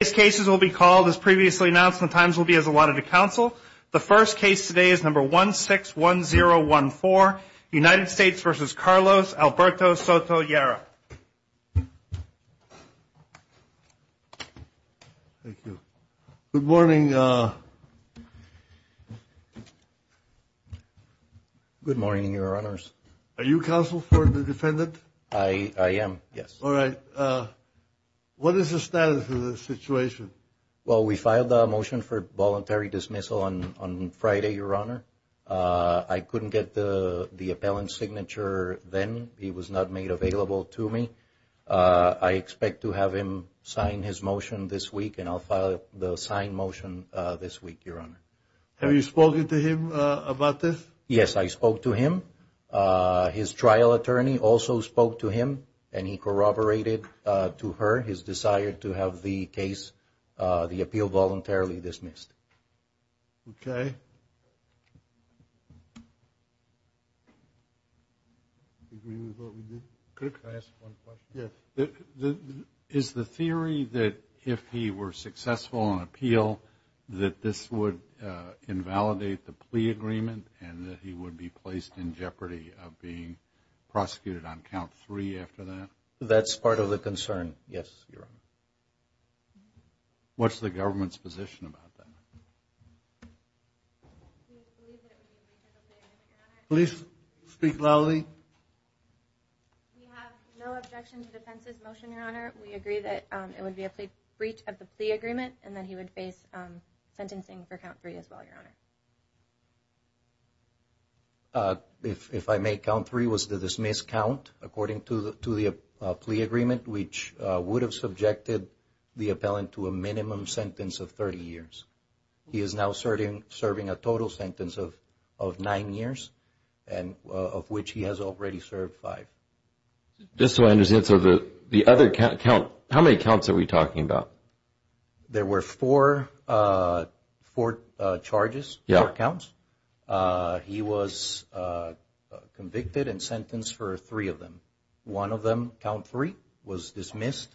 These cases will be called, as previously announced, and the times will be as allotted to counsel. The first case today is number 161014, United States v. Carlos Alberto Soto-Llera. Thank you. Good morning. Good morning, Your Honors. Are you counsel for the defendant? I am, yes. All right. What is the status of the situation? Well, we filed a motion for voluntary dismissal on Friday, Your Honor. I couldn't get the appellant's signature then. He was not made available to me. I expect to have him sign his motion this week, and I'll file the signed motion this week, Your Honor. Have you spoken to him about this? Yes, I spoke to him. His trial attorney also spoke to him, and he corroborated to her his desire to have the case, the appeal, voluntarily dismissed. Okay. Do you agree with what we did? Could I ask one question? Yes. Is the theory that if he were successful on appeal that this would invalidate the plea agreement and that he would be placed in jeopardy of being prosecuted on count three after that? That's part of the concern, yes, Your Honor. What's the government's position about that? Please speak loudly. We have no objection to the defense's motion, Your Honor. We agree that it would be a breach of the plea agreement and that he would face sentencing for count three as well, Your Honor. If I may, count three was the dismissed count according to the plea agreement, which would have subjected the appellant to a minimum sentence of 30 years. He is now serving a total sentence of nine years, of which he has already served five. Just so I understand, so the other count, how many counts are we talking about? There were four charges, four counts. He was convicted and sentenced for three of them. One of them, count three, was dismissed.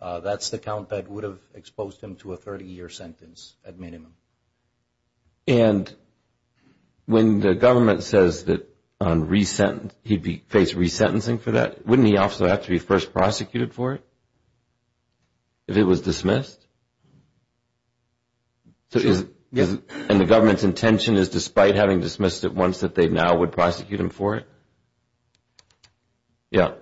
That's the count that would have exposed him to a 30-year sentence at minimum. And when the government says that he'd face resentencing for that, wouldn't he also have to be first prosecuted for it if it was dismissed? And the government's intention is despite having dismissed it once that they now would prosecute him for it? Yeah.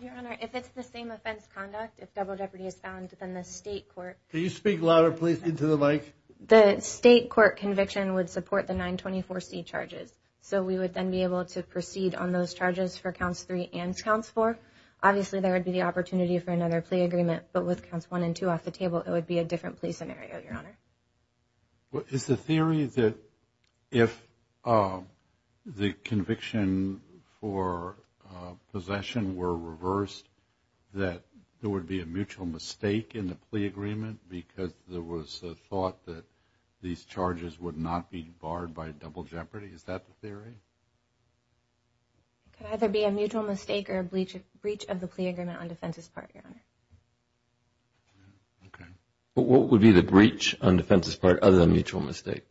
Your Honor, if it's the same offense conduct, if double jeopardy is found, then the state court – Can you speak louder, please, into the mic? The state court conviction would support the 924C charges, so we would then be able to proceed on those charges for counts three and counts four. Obviously, there would be the opportunity for another plea agreement, but with counts one and two off the table, it would be a different plea scenario, Your Honor. Is the theory that if the conviction for possession were reversed, that there would be a mutual mistake in the plea agreement because there was a thought that these charges would not be barred by double jeopardy? Is that the theory? It could either be a mutual mistake or a breach of the plea agreement on defense's part, Your Honor. Okay. But what would be the breach on defense's part other than mutual mistake?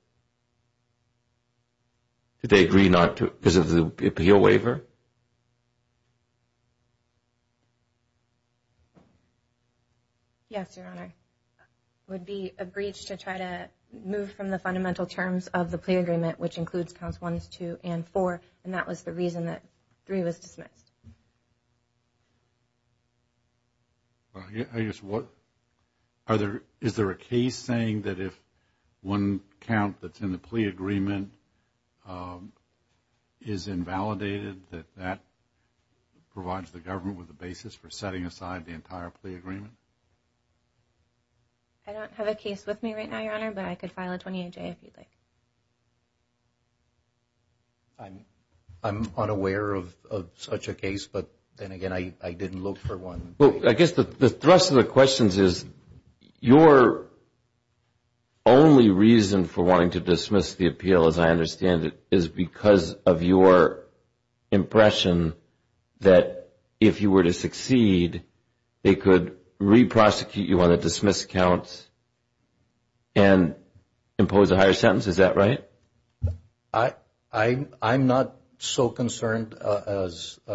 Did they agree not to – because of the appeal waiver? Yes, Your Honor. It would be a breach to try to move from the fundamental terms of the plea agreement, which includes counts one, two, and four, and that was the reason that three was dismissed. I guess what – is there a case saying that if one count that's in the plea agreement is invalidated, that that provides the government with a basis for setting aside the entire plea agreement? I don't have a case with me right now, Your Honor, but I could file a 28-J if you'd like. I'm unaware of such a case, but then again, I didn't look for one. Well, I guess the thrust of the questions is your only reason for wanting to dismiss the appeal, as I understand it, is because of your impression that if you were to succeed, they could re-prosecute you on the dismissed counts and impose a higher sentence. Is that right? I'm not so concerned as –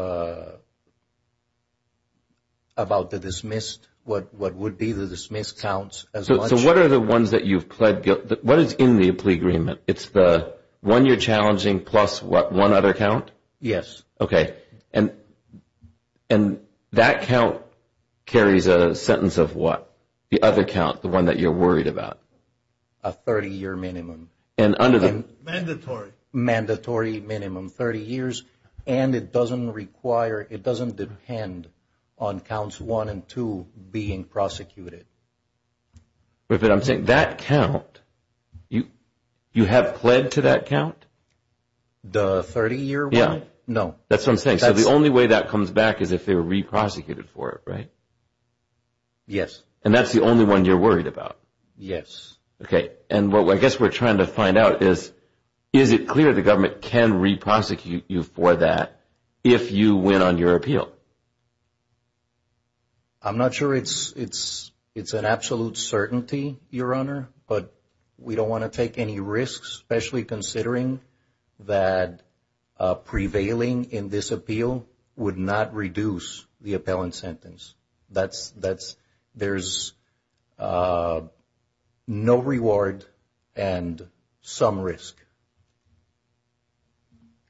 about the dismissed – what would be the dismissed counts as much. So what are the ones that you've pled guilty – what is in the plea agreement? It's the one you're challenging plus what, one other count? Yes. Okay. And that count carries a sentence of what, the other count, the one that you're worried about? A 30-year minimum. And under the – Mandatory. Mandatory minimum, 30 years, and it doesn't require – it doesn't depend on counts one and two being prosecuted. But I'm saying that count – you have pled to that count? The 30-year one? Yeah. No. That's what I'm saying. So the only way that comes back is if they were re-prosecuted for it, right? Yes. And that's the only one you're worried about? Yes. Okay. And what I guess we're trying to find out is, is it clear the government can re-prosecute you for that if you win on your appeal? I'm not sure it's an absolute certainty, Your Honor, but we don't want to take any risks, especially considering that prevailing in this appeal would not reduce the appellant sentence. That's – there's no reward and some risk.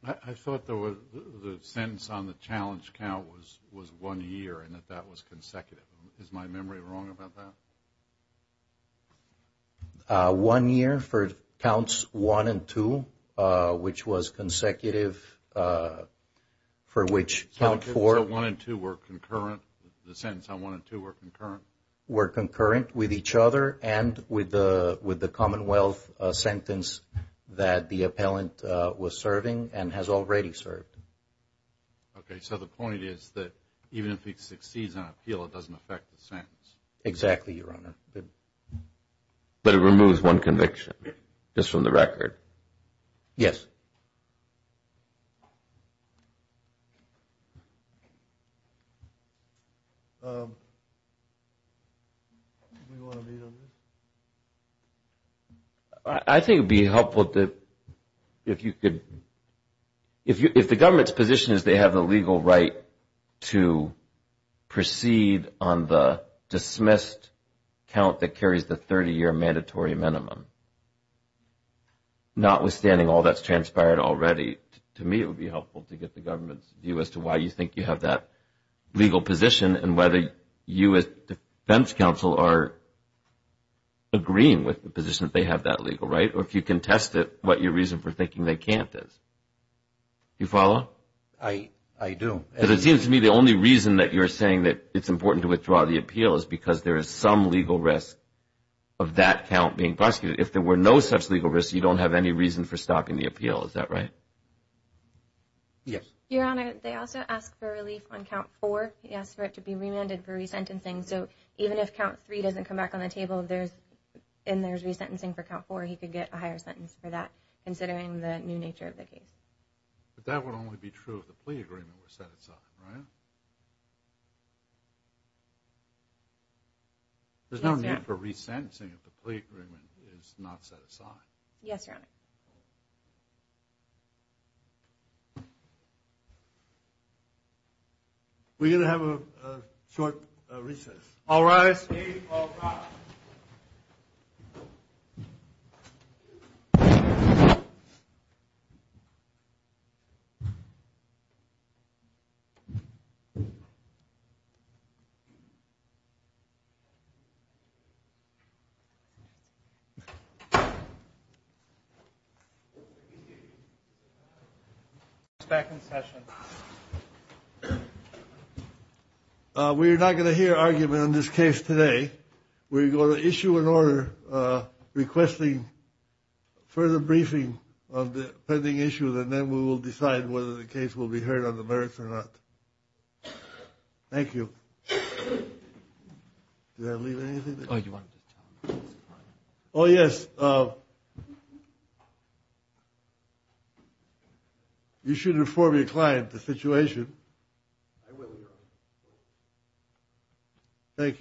I thought the sentence on the challenge count was one year and that that was consecutive. Is my memory wrong about that? One year for counts one and two, which was consecutive, for which count four – So one and two were concurrent? The sentence on one and two were concurrent? Were concurrent with each other and with the Commonwealth sentence that the appellant was serving and has already served. Okay. So the point is that even if he succeeds on appeal, it doesn't affect the sentence? Exactly, Your Honor. But it removes one conviction just from the record? Yes. I think it would be helpful if you could – count that carries the 30-year mandatory minimum. Notwithstanding all that's transpired already, to me it would be helpful to get the government's view as to why you think you have that legal position and whether you as defense counsel are agreeing with the position that they have that legal right, or if you contest it, what your reason for thinking they can't is. Do you follow? I do. But it seems to me the only reason that you're saying that it's important to withdraw the appeal is because there is some legal risk of that count being prosecuted. If there were no such legal risk, you don't have any reason for stopping the appeal. Is that right? Yes. Your Honor, they also asked for relief on count four. He asked for it to be remanded for resentencing. So even if count three doesn't come back on the table and there's resentencing for count four, he could get a higher sentence for that, considering the new nature of the case. But that would only be true if the plea agreement were set aside, right? There's no need for resentencing if the plea agreement is not set aside. Yes, Your Honor. We're going to have a short recess. All rise. Thank you. Back in session. We're not going to hear argument in this case today. We're going to issue an order requesting further briefing on the pending issue, and then we will decide whether the case will be heard on the merits or not. Thank you. Did I leave anything? Oh, yes. You should inform your client the situation. I will, Your Honor. Thank you.